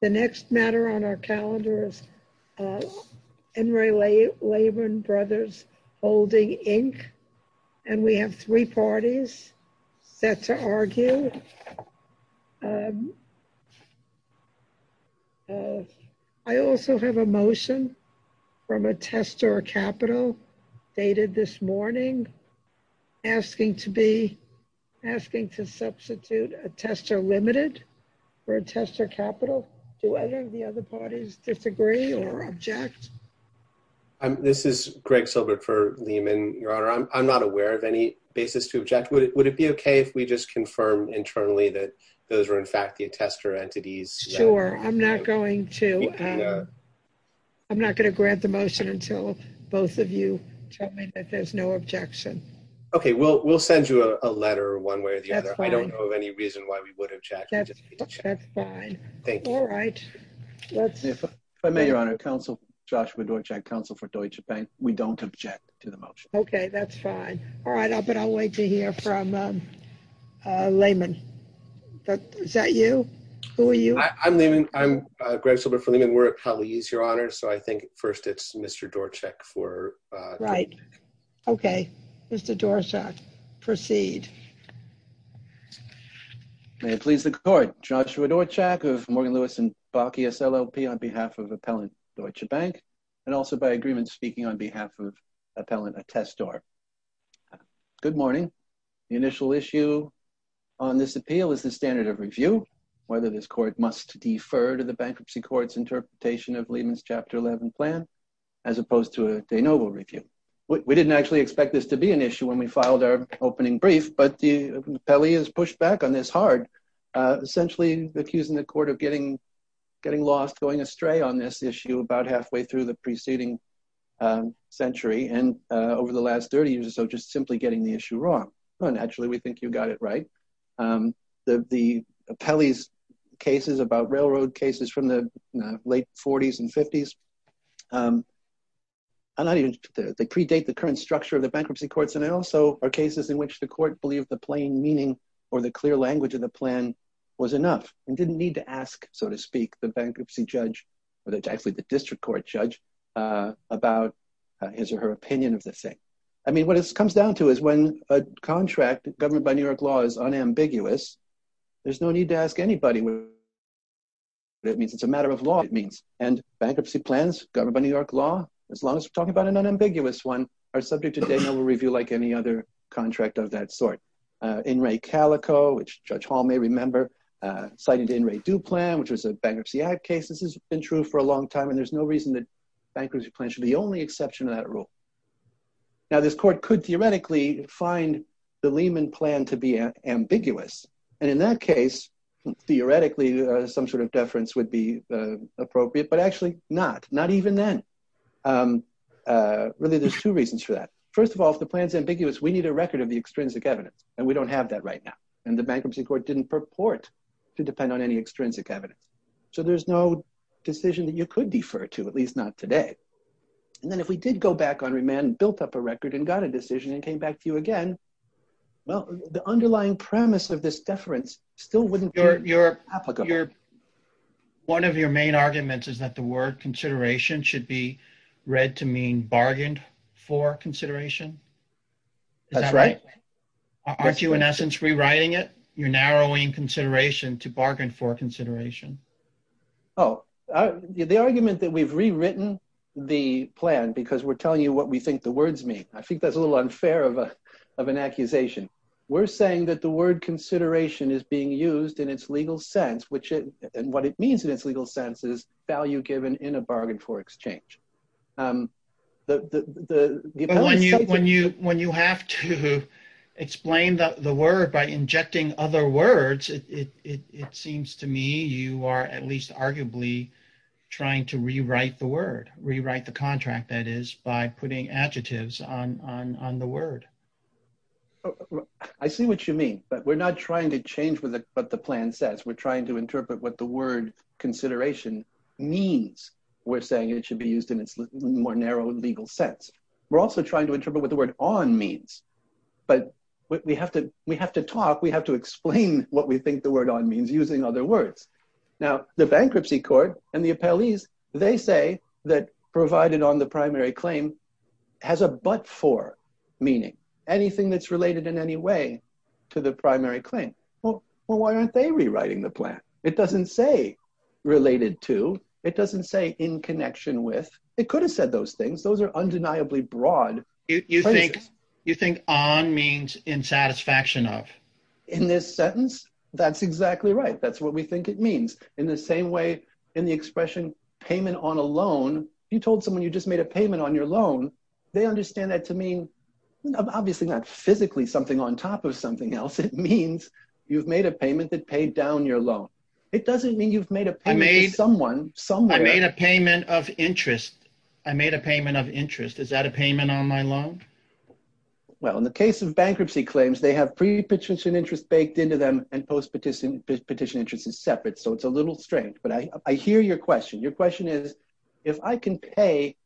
The next matter on our calendar is Enri Lehman Brothers Holdings Inc. And we have three parties set to argue. I also have a motion from a tester capital dated this morning, asking to be, asking to substitute a tester limited for a tester capital. Do either of the other parties disagree or object? This is Greg Silbert for Lehman, Your Honor. I'm not aware of any basis to object. Would it be okay if we just confirm internally that those were in fact the tester entities? Sure, I'm not going to, I'm not gonna grant the motion until both of you tell me that there's no objection. Okay, we'll send you a letter one way or the other. I don't know of any reason why we would object. That's fine. All right, let's- If I may, Your Honor, Joshua Dorchak, counsel for Deutsche Bank. We don't object to the motion. Okay, that's fine. All right, but I'll wait to hear from Lehman. Is that you? Who are you? I'm Lehman. I'm Greg Silbert for Lehman. We're colleagues, Your Honor. So I think first it's Mr. Dorchak for- Right. Okay. Mr. Dorchak, proceed. May it please the court. Joshua Dorchak of Morgan Lewis and Bakke SLLP on behalf of Appellant Deutsche Bank and also by agreement speaking on behalf of Appellant Attestor. Good morning. The initial issue on this appeal is the standard of review, whether this court must defer to the bankruptcy court's interpretation of Lehman's Chapter 11 plan, as opposed to a de novo review. We didn't actually expect this to be an issue when we filed our opening brief, but the appellee has pushed back on this hard, essentially accusing the court of getting lost, going astray on this issue about halfway through the preceding century and over the last 30 years or so, just simply getting the issue wrong. Well, naturally we think you got it right. The appellee's cases about railroad cases from the late 40s and 50s, I'm not even, they predate the current structure of the bankruptcy courts and they also are cases in which the court believed the plain meaning or the clear language of the plan was enough and didn't need to ask, so to speak, the bankruptcy judge, or actually the district court judge about his or her opinion of the thing. I mean, what it comes down to is when a contract governed by New York law is unambiguous, there's no need to ask anybody what it means. It's a matter of law, it means. And bankruptcy plans governed by New York law, as long as we're talking about an unambiguous one, are subject to Daniel review like any other contract of that sort. In Ray Calico, which Judge Hall may remember, cited in Ray Duplan, which was a bankruptcy ad case. This has been true for a long time and there's no reason that bankruptcy plans should be the only exception to that rule. Now this court could theoretically find the Lehman plan to be ambiguous. And in that case, theoretically, some sort of deference would be appropriate, but actually not, not even then. Really, there's two reasons for that. First of all, if the plan's ambiguous, we need a record of the extrinsic evidence and we don't have that right now. And the bankruptcy court didn't purport to depend on any extrinsic evidence. So there's no decision that you could defer to, at least not today. And then if we did go back on remand and built up a record and got a decision and came back to you again, well, the underlying premise of this deference still wouldn't be applicable. One of your main arguments is that the word consideration should be read to mean bargained for consideration. That's right. Aren't you in essence, rewriting it? You're narrowing consideration to bargain for consideration. Oh, the argument that we've rewritten the plan because we're telling you what we think the words mean. I think that's a little unfair of an accusation. We're saying that the word consideration is being used in its legal sense, and what it means in its legal sense is value given in a bargain for exchange. When you have to explain the word by injecting other words, it seems to me you are at least arguably trying to rewrite the word, rewrite the contract that is by putting adjectives on the word. I see what you mean, but we're not trying to change what the plan says. We're trying to interpret what the word consideration means. We're saying it should be used in its more narrow legal sense. We're also trying to interpret what the word on means, but we have to talk, we have to explain what we think the word on means using other words. Now, the bankruptcy court and the appellees, they say that provided on the primary claim has a but for meaning, anything that's related in any way to the primary claim. Well, why aren't they rewriting the plan? It doesn't say related to, it doesn't say in connection with, it could have said those things. Those are undeniably broad. You think on means in satisfaction of? In this sentence, that's exactly right. That's what we think it means. In the same way, in the expression payment on a loan, you told someone you just made a payment on your loan, they understand that to mean, obviously not physically something on top of something else. It means you've made a payment that paid down your loan. It doesn't mean you've made a payment to someone, somewhere. I made a payment of interest. I made a payment of interest. Is that a payment on my loan? Well, in the case of bankruptcy claims, they have pre-petition interest baked into them and post-petition interest is separate. So it's a little strange, but I hear your question. Your question is, if I can pay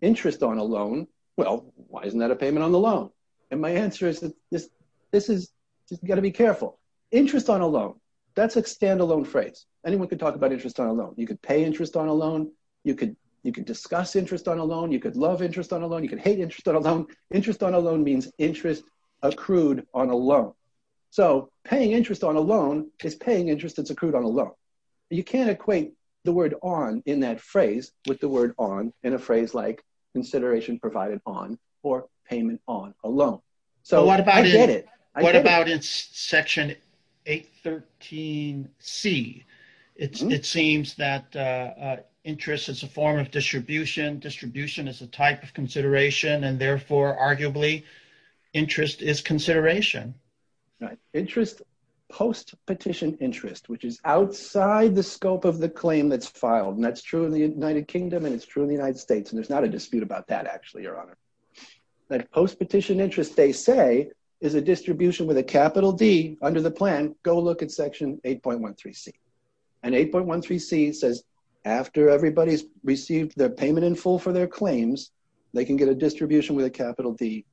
interest on a loan, well, why isn't that a payment on the loan? And my answer is that this is, you gotta be careful. Interest on a loan, that's a standalone phrase. Anyone can talk about interest on a loan. You could pay interest on a loan. You could discuss interest on a loan. You could love interest on a loan. You can hate interest on a loan. Interest on a loan means interest accrued on a loan. So paying interest on a loan is paying interest that's accrued on a loan. You can't equate the word on in that phrase with the word on in a phrase like consideration provided on or payment on a loan. So I get it. What about in section 813C? It seems that interest is a form of distribution. Distribution is a type of consideration and therefore arguably interest is consideration. Right, interest post-petition interest, which is outside the scope of the claim that's filed. And that's true in the United Kingdom and it's true in the United States. And there's not a dispute about that actually, Your Honor. That post-petition interest they say is a distribution with a capital D under the plan. Go look at section 8.13C. And 8.13C says after everybody's received their payment in full for their claims, they can get a distribution with a capital D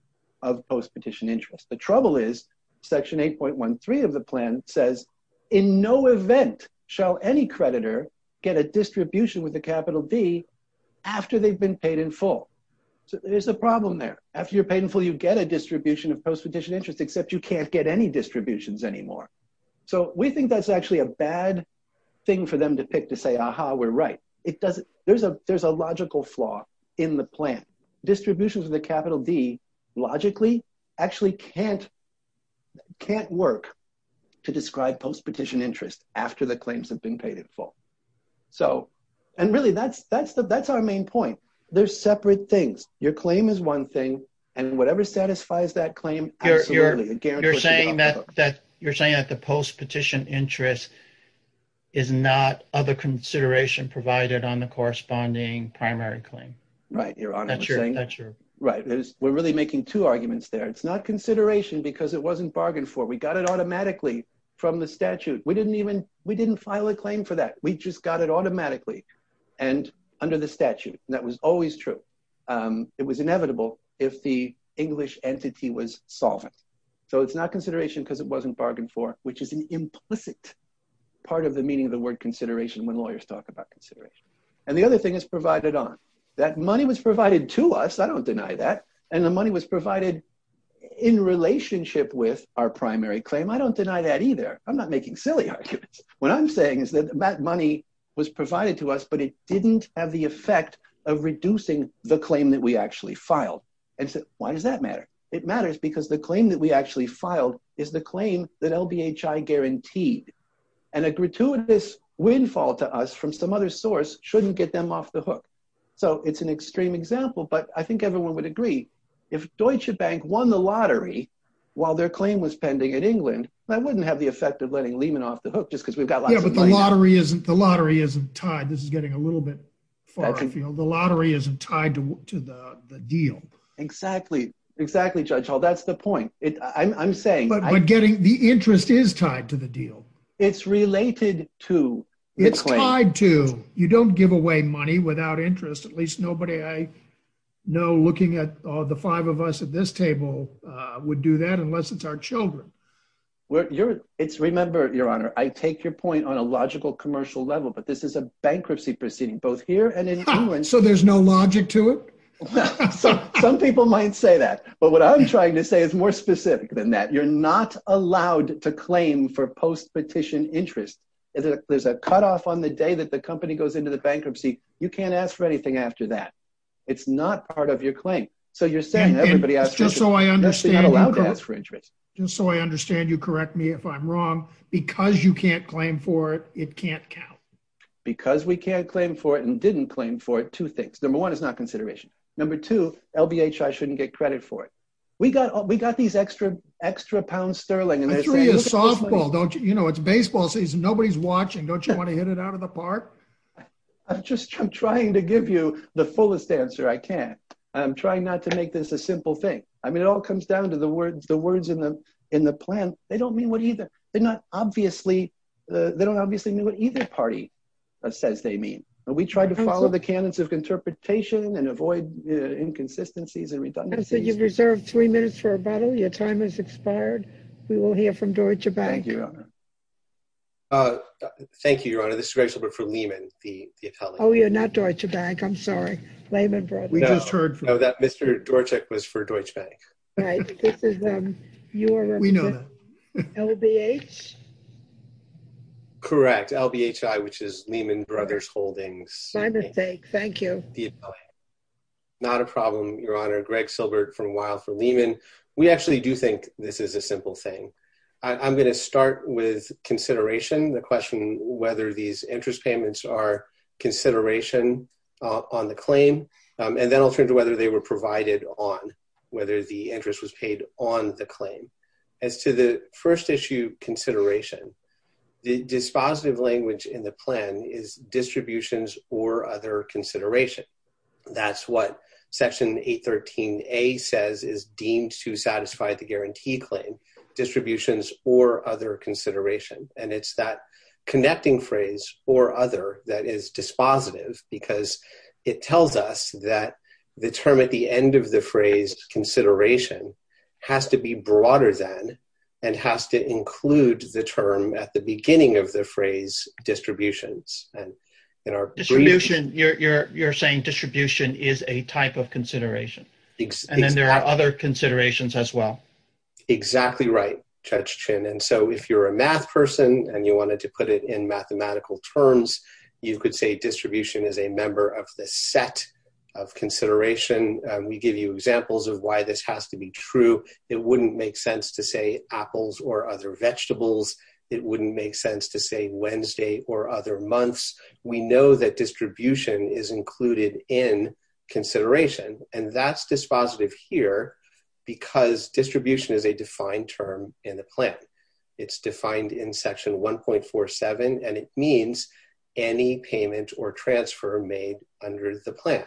of post-petition interest. The trouble is section 8.13 of the plan says, in no event shall any creditor get a distribution with a capital D after they've been paid in full. So there's a problem there. After you're paid in full, you get a distribution of post-petition interest, except you can't get any distributions anymore. So we think that's actually a bad thing for them to pick to say, aha, we're right. It doesn't, there's a logical flaw in the plan. Distributions with a capital D logically actually can't work to describe post-petition interest after the claims have been paid in full. So, and really that's our main point. There's separate things. Your claim is one thing and whatever satisfies that claim, absolutely. You're saying that the post-petition interest is not other consideration provided on the corresponding primary claim. Right, Your Honor. That's your- Right, we're really making two arguments there. It's not consideration because it wasn't bargained for. We got it automatically from the statute. We didn't even, we didn't file a claim for that. We just got it automatically and under the statute. And that was always true. It was inevitable if the English entity was solvent. So it's not consideration because it wasn't bargained for which is an implicit part of the meaning of the word consideration when lawyers talk about consideration. And the other thing is provided on. That money was provided to us. I don't deny that. And the money was provided in relationship with our primary claim. I don't deny that either. I'm not making silly arguments. What I'm saying is that that money was provided to us but it didn't have the effect of reducing the claim that we actually filed. And so why does that matter? It matters because the claim that we actually filed is the claim that LBHI guaranteed. And a gratuitous windfall to us from some other source shouldn't get them off the hook. So it's an extreme example but I think everyone would agree if Deutsche Bank won the lottery while their claim was pending in England that wouldn't have the effect of letting Lehman off the hook just because we've got lots of money. Yeah, but the lottery isn't tied. This is getting a little bit far afield. The lottery isn't tied to the deal. Exactly, exactly, Judge Hall. That's the point. I'm saying- But getting the interest is tied to the deal. It's related to the claim. It's tied to. You don't give away money without interest. At least nobody I know looking at all the five of us at this table would do that unless it's our children. Remember, Your Honor, I take your point on a logical commercial level but this is a bankruptcy proceeding both here and in England. So there's no logic to it? Some people might say that but what I'm trying to say is more specific than that. You're not allowed to claim for post-petition interest. There's a cutoff on the day that the company goes into the bankruptcy. You can't ask for anything after that. It's not part of your claim. So you're saying everybody else- Just so I understand- You're not allowed to ask for interest. Just so I understand, you correct me if I'm wrong. Because you can't claim for it, it can't count. Because we can't claim for it and didn't claim for it, two things. Number one, it's not consideration. Number two, LBHI shouldn't get credit for it. We got these extra pounds sterling and they're saying- I threw you a softball, don't you? You know, it's baseball season. Nobody's watching. Don't you want to hit it out of the park? I'm just trying to give you the fullest answer I can. I'm trying not to make this a simple thing. I mean, it all comes down to the words in the plan. They don't mean what either. They don't obviously mean what either party says they mean. And we try to follow the canons of interpretation and avoid inconsistencies and redundancies. I'm sorry, you've reserved three minutes for rebuttal. Your time has expired. We will hear from Deutsche Bank. Thank you, Your Honor. Thank you, Your Honor. This is Greg Schilbert from Lehman, the atelier. Oh, you're not Deutsche Bank. I'm sorry. Lehman Brothers. We just heard from- No, that Mr. Dorchek was for Deutsche Bank. Right, this is your- We know that. LBH? Correct, LBHI, which is Lehman Brothers Holdings. My mistake, thank you. Not a problem, Your Honor. Greg Schilbert from Weill for Lehman. We actually do think this is a simple thing. I'm gonna start with consideration. The question whether these interest payments are consideration on the claim. And then I'll turn to whether they were provided on, whether the interest was paid on the claim. As to the first issue, consideration, the dispositive language in the plan is distributions or other consideration. That's what section 813A says is deemed to satisfy the guarantee claim, distributions or other consideration. And it's that connecting phrase, or other, that is dispositive because it tells us that the term at the end of the phrase, consideration, has to be broader than, and has to include the term at the beginning of the phrase, distributions. Distribution, you're saying distribution is a type of consideration. And then there are other considerations as well. Exactly right, Judge Chin. And so if you're a math person and you wanted to put it in mathematical terms, you could say distribution is a member of the set of consideration. We give you examples of why this has to be true. It wouldn't make sense to say apples or other vegetables. It wouldn't make sense to say Wednesday or other months. We know that distribution is included in consideration. And that's dispositive here because distribution is a defined term in the plan. It's defined in section 1.47, and it means any payment or transfer made under the plan.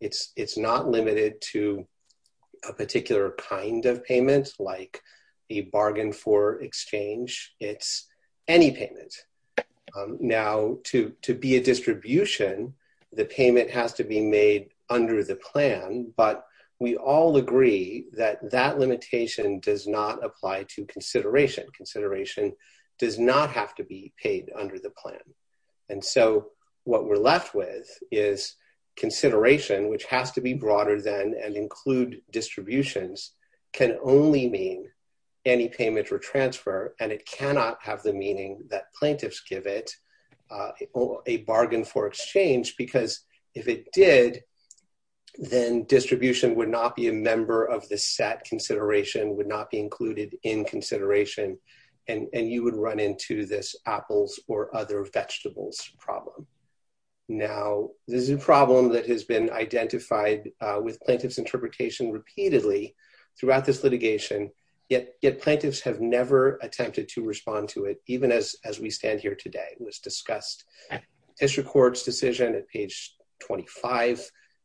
It's not limited to a particular kind of payment like a bargain for exchange. It's any payment. Now, to be a distribution, the payment has to be made under the plan, but we all agree that that limitation does not apply to consideration. Consideration does not have to be paid under the plan. And so what we're left with is consideration, which has to be broader than and include distributions can only mean any payment or transfer. And it cannot have the meaning that plaintiffs give it a bargain for exchange, because if it did, then distribution would not be a member of the set. Consideration would not be included in consideration. And you would run into this apples or other vegetables problem. Now, this is a problem that has been identified with plaintiff's interpretation repeatedly throughout this litigation, yet plaintiffs have never attempted to respond to it. Even as we stand here today, it was discussed. This records decision at page 25.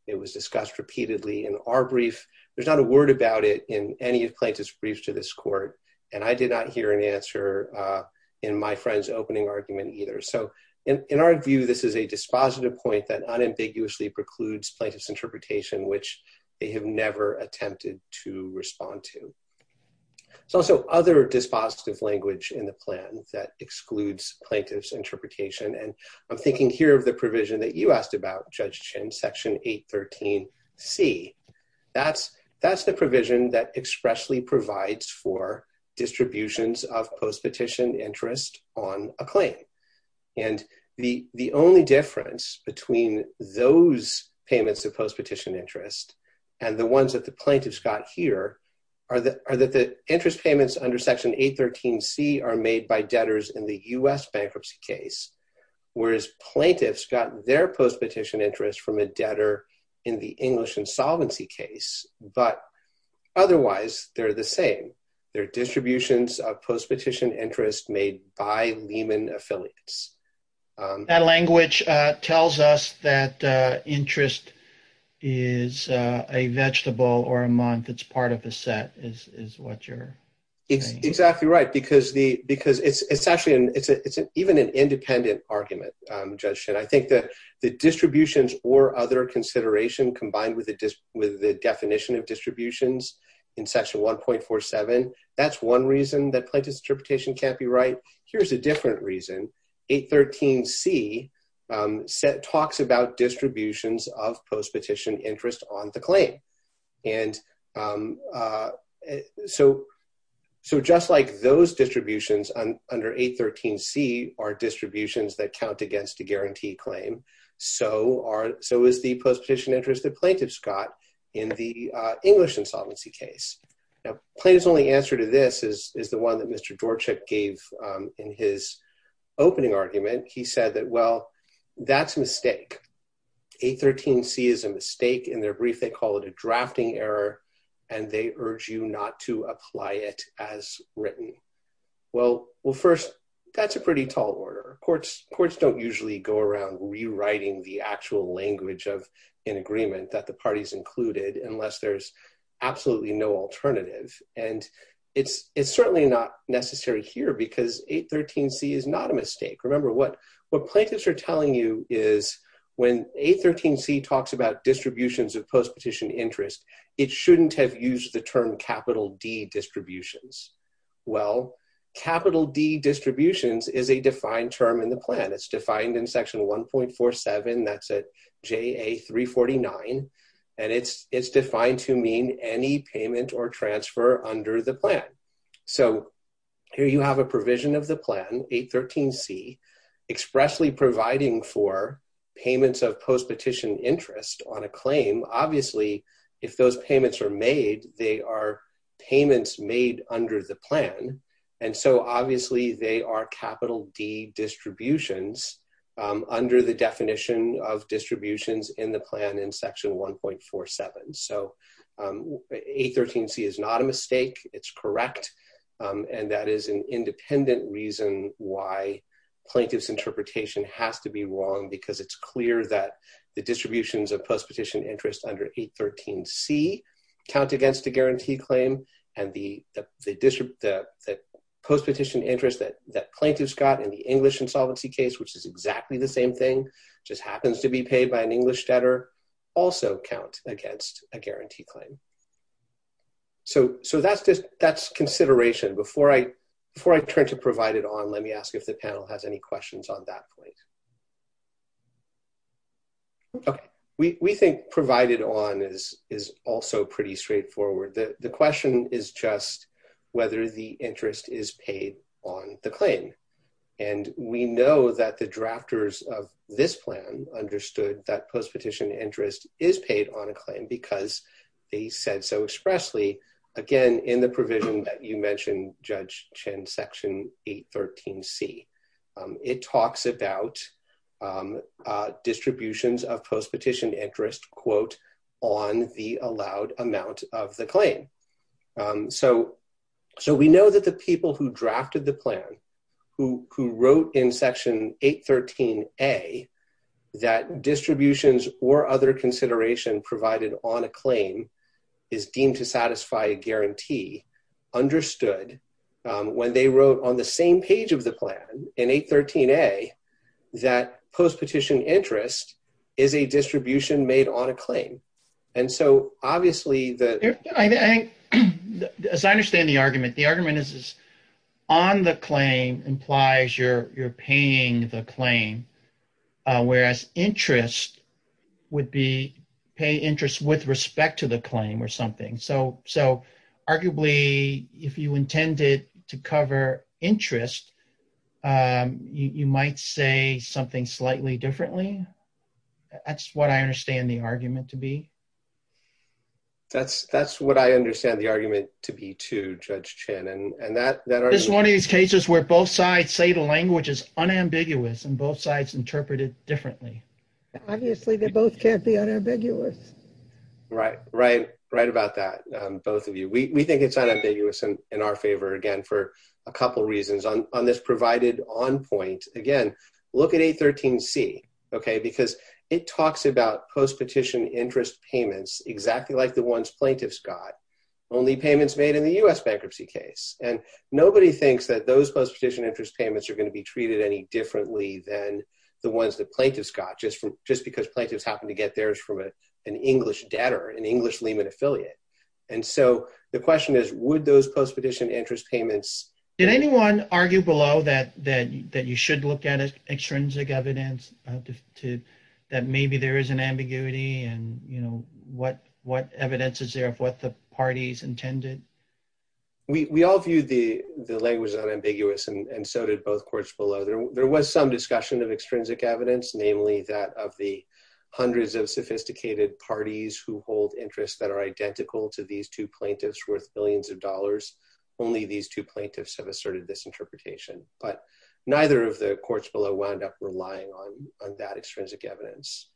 It was discussed repeatedly in our brief. There's not a word about it in any of plaintiff's briefs to this court. And I did not hear an answer in my friend's opening argument either. So in our view, this is a dispositive point that unambiguously precludes plaintiff's interpretation, which they have never attempted to respond to. So also other dispositive language in the plan that excludes plaintiff's interpretation. And I'm thinking here of the provision that you asked about Judge Chin section 813 C. That's the provision that expressly provides for distributions of post-petition interest on a claim. And the only difference between those payments of post-petition interest and the ones that the plaintiff's got here are that the interest payments under section 813 C are made by debtors in the US bankruptcy case, whereas plaintiffs got their post-petition interest from a debtor in the English insolvency case, but otherwise they're the same. They're distributions of post-petition interest made by Lehman affiliates. That language tells us that interest is a vegetable or a month that's part of the set is what you're saying. Exactly right. Because it's even an independent argument, Judge Chin. I think that the distributions or other consideration combined with the definition of distributions in section 1.47, that's one reason that plaintiff's interpretation can't be right. Here's a different reason. 813 C talks about distributions of post-petition interest on the claim. And so just like those distributions under 813 C are distributions that count against a guarantee claim. So is the post-petition interest that plaintiff's got in the English insolvency case. Now plaintiff's only answer to this is the one that Mr. Dorchuk gave in his opening argument. He said that, well, that's a mistake. 813 C is a mistake. In their brief, they call it a drafting error and they urge you not to apply it as written. Well, first that's a pretty tall order. Courts don't usually go around rewriting the actual language of an agreement that the parties included unless there's absolutely no alternative. And it's certainly not necessary here because 813 C is not a mistake. Remember what plaintiffs are telling you is when 813 C talks about distributions of post-petition interest, it shouldn't have used the term capital D distributions. Well, capital D distributions is a defined term in the plan. It's defined in section 1.47, that's at JA 349. And it's defined to mean any payment or transfer under the plan. So here you have a provision of the plan, 813 C, expressly providing for payments of post-petition interest on a claim. Obviously, if those payments are made, they are payments made under the plan. And so obviously they are capital D distributions under the definition of distributions in the plan in section 1.47. So 813 C is not a mistake, it's correct. And that is an independent reason why plaintiff's interpretation has to be wrong because it's clear that the distributions of post-petition interest under 813 C count against a guarantee claim and the post-petition interest that plaintiff's got in the English insolvency case, which is exactly the same thing, just happens to be paid by an English debtor, also count against a guarantee claim. So that's consideration. Before I turn to provided on, let me ask if the panel has any questions on that point. Okay, we think provided on is also pretty straightforward. The question is just whether the interest is paid on the claim. And we know that the drafters of this plan understood that post-petition interest is paid on a claim because they said so expressly, again, in the provision that you mentioned, Judge Chen, section 813 C. It talks about distributions of post-petition interest, quote, on the allowed amount of the claim. So we know that the people who drafted the plan, who wrote in section 813 A, that distributions or other consideration provided on a claim is deemed to satisfy a guarantee, understood when they wrote on the same page of the plan in 813 A, that post-petition interest is a distribution made on a claim. And so obviously the- Yeah, I think, as I understand the argument, the argument is on the claim implies you're paying the claim whereas interest would be pay interest with respect to the claim or something. So arguably, if you intended to cover interest, you might say something slightly differently. That's what I understand the argument to be. That's what I understand the argument to be too, Judge Chen, and that- This is one of these cases where both sides say the language is unambiguous and both sides interpret it differently. Obviously, they both can't be unambiguous. Right, right about that, both of you. We think it's unambiguous in our favor, again, for a couple of reasons. On this provided on point, again, look at 813 C, okay? Because it talks about post-petition interest payments exactly like the ones plaintiffs got, only payments made in the US bankruptcy case. And nobody thinks that those post-petition interest payments are gonna be treated any differently than the ones that plaintiffs got just because plaintiffs happened to get theirs from an English debtor, an English Lehman affiliate. And so the question is, would those post-petition interest payments- Did anyone argue below that you should look at extrinsic evidence that maybe there is an ambiguity and what evidence is there of what the parties intended? We all view the language as unambiguous and so did both courts below. There was some discussion of extrinsic evidence, namely that of the hundreds of sophisticated parties who hold interests that are identical to these two plaintiffs worth billions of dollars, only these two plaintiffs have asserted this interpretation. But neither of the courts below wound up relying on that extrinsic evidence.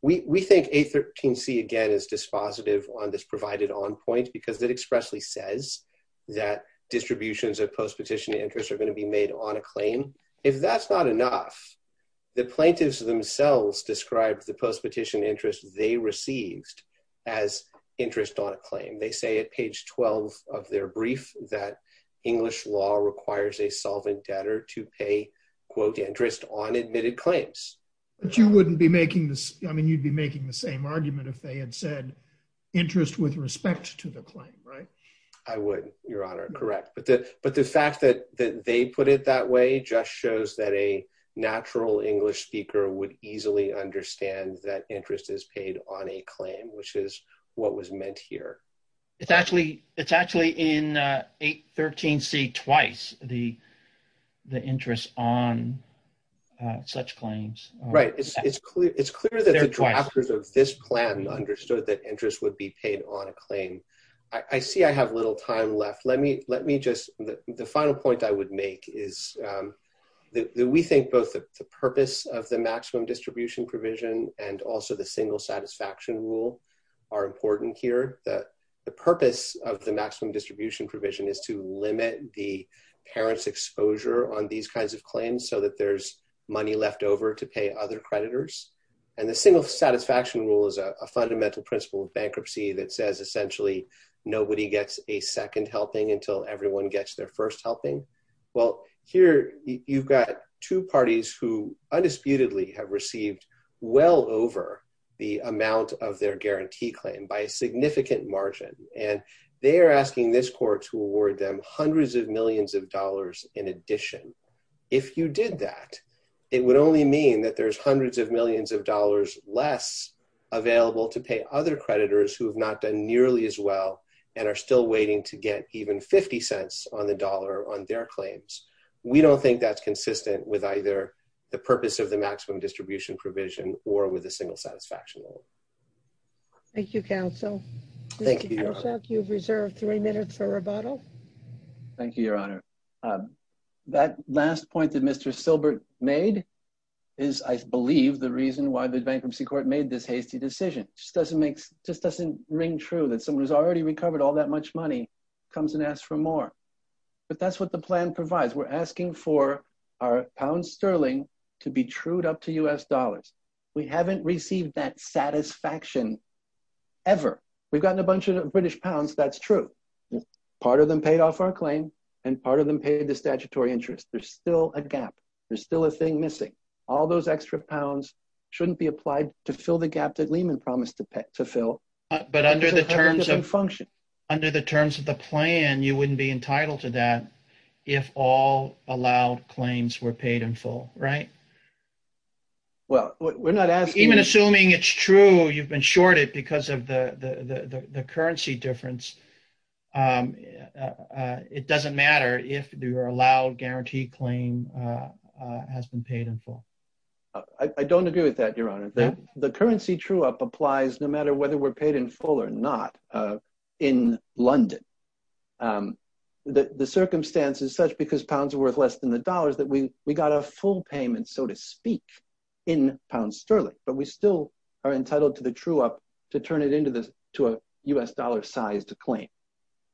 We think 813 C, again, is dispositive on this provided on point because it expressly says that distributions of post-petition interest are gonna be made on a claim. If that's not enough, the plaintiffs themselves described the post-petition interest they received as interest on a claim. They say at page 12 of their brief that English law requires a solvent debtor to pay, quote, interest on admitted claims. But you wouldn't be making this, I mean, you'd be making the same argument if they had said interest with respect to the claim, right? I would, Your Honor, correct. But the fact that they put it that way, it just shows that a natural English speaker would easily understand that interest is paid on a claim, which is what was meant here. It's actually in 813 C twice, the interest on such claims. Right, it's clear that the drafters of this plan understood that interest would be paid on a claim. I see I have little time left. Let me just, the final point I would make is that we think both the purpose of the maximum distribution provision and also the single satisfaction rule are important here. The purpose of the maximum distribution provision is to limit the parent's exposure on these kinds of claims so that there's money left over to pay other creditors. And the single satisfaction rule is a fundamental principle of bankruptcy that says essentially nobody gets a second helping until everyone gets their first helping. Well, here you've got two parties who undisputedly have received well over the amount of their guarantee claim by a significant margin. And they are asking this court to award them hundreds of millions of dollars in addition. If you did that, it would only mean that there's hundreds of millions of dollars less available to pay other creditors who have not done nearly as well and are still waiting to get even 50 cents on the dollar on their claims. We don't think that's consistent with either the purpose of the maximum distribution provision or with a single satisfaction rule. Thank you, your honor. Mr. Hitchcock, you've reserved three minutes for rebuttal. Thank you, your honor. That last point that Mr. Silbert made is I believe the reason why the bankruptcy court made this hasty decision. Just doesn't make, just doesn't ring true that someone who's already recovered all that much money comes and asks for more. But that's what the plan provides. We're asking for our pound sterling to be trued up to US dollars. We haven't received that satisfaction ever. We've gotten a bunch of British pounds, that's true. Part of them paid off our claim and part of them paid the statutory interest. There's still a gap. There's still a thing missing. All those extra pounds shouldn't be applied to fill the gap that Lehman promised to fill. But under the terms of function. Under the terms of the plan, you wouldn't be entitled to that if all allowed claims were paid in full, right? Well, we're not asking- Even assuming it's true, you've been shorted because of the currency difference. It doesn't matter if your allowed guarantee claim has been paid in full. I don't agree with that, your honor. The currency true up applies no matter whether we're paid in full or not. In London, the circumstance is such because pounds are worth less than the dollars that we got a full payment, so to speak, in pound sterling. But we still are entitled to the true up to turn it into a US dollar sized claim.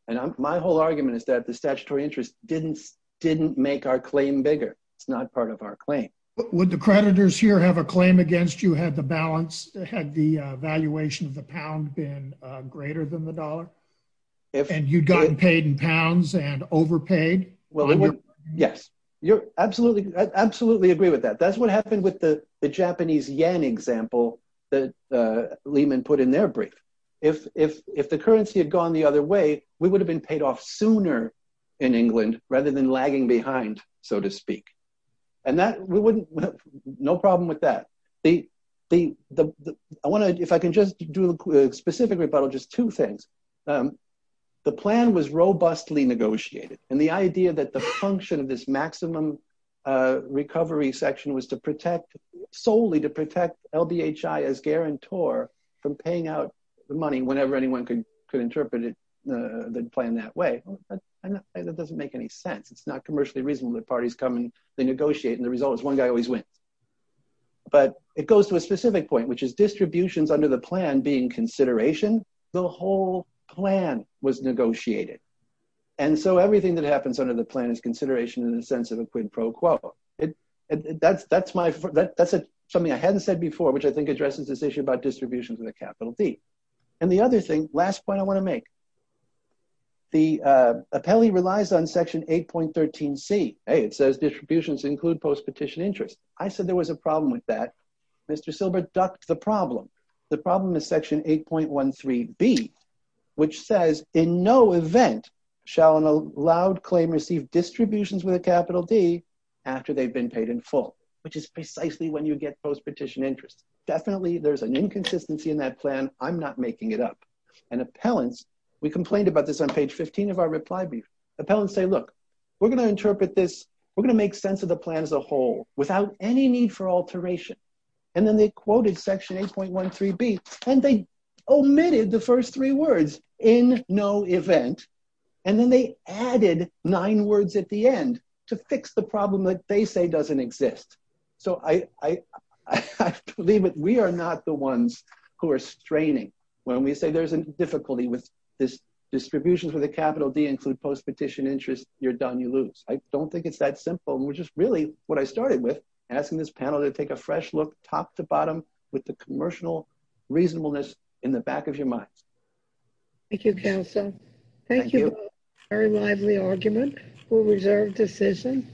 And my whole argument is that the statutory interest didn't make our claim bigger. It's not part of our claim. But would the creditors here have a claim against you had the balance, had the valuation of the pound been greater than the dollar? If- And you'd gotten paid in pounds and overpaid? Well, yes, I absolutely agree with that. That's what happened with the Japanese yen example that Lehman put in their brief. If the currency had gone the other way, we would have been paid off sooner in England rather than lagging behind, so to speak. And that we wouldn't, no problem with that. The, I wanna, if I can just do a specific rebuttal, just two things. The plan was robustly negotiated. And the idea that the function of this maximum recovery section was to protect, solely to protect LBHI as guarantor from paying out the money whenever anyone could interpret it the plan that way, that doesn't make any sense. It's not commercially reasonable that parties come and they negotiate and the result is one guy always wins. But it goes to a specific point, which is distributions under the plan being consideration, the whole plan was negotiated. And so everything that happens under the plan is consideration in the sense of a quid pro quo. It, that's my, that's something I hadn't said before, which I think addresses this issue about distributions with a capital D. And the other thing, last point I wanna make, the appellee relies on section 8.13C. Hey, it says distributions include post-petition interest. I said there was a problem with that. Mr. Silber ducked the problem. The problem is section 8.13B, which says in no event shall an allowed claim receive distributions with a capital D after they've been paid in full, which is precisely when you get post-petition interest. Definitely there's an inconsistency in that plan. I'm not making it up. And appellants, we complained about this on page 15 of our reply brief. Appellants say, look, we're gonna interpret this. We're gonna make sense of the plan as a whole without any need for alteration. And then they quoted section 8.13B and they omitted the first three words, in no event. And then they added nine words at the end to fix the problem that they say doesn't exist. So I believe that we are not the ones who are straining. When we say there's a difficulty with this distributions with a capital D include post-petition interest, you're done, you lose. I don't think it's that simple. And we're just really, what I started with, asking this panel to take a fresh look top to bottom with the commercial reasonableness in the back of your mind. Thank you, counsel. Thank you. Very lively argument. We'll reserve decision.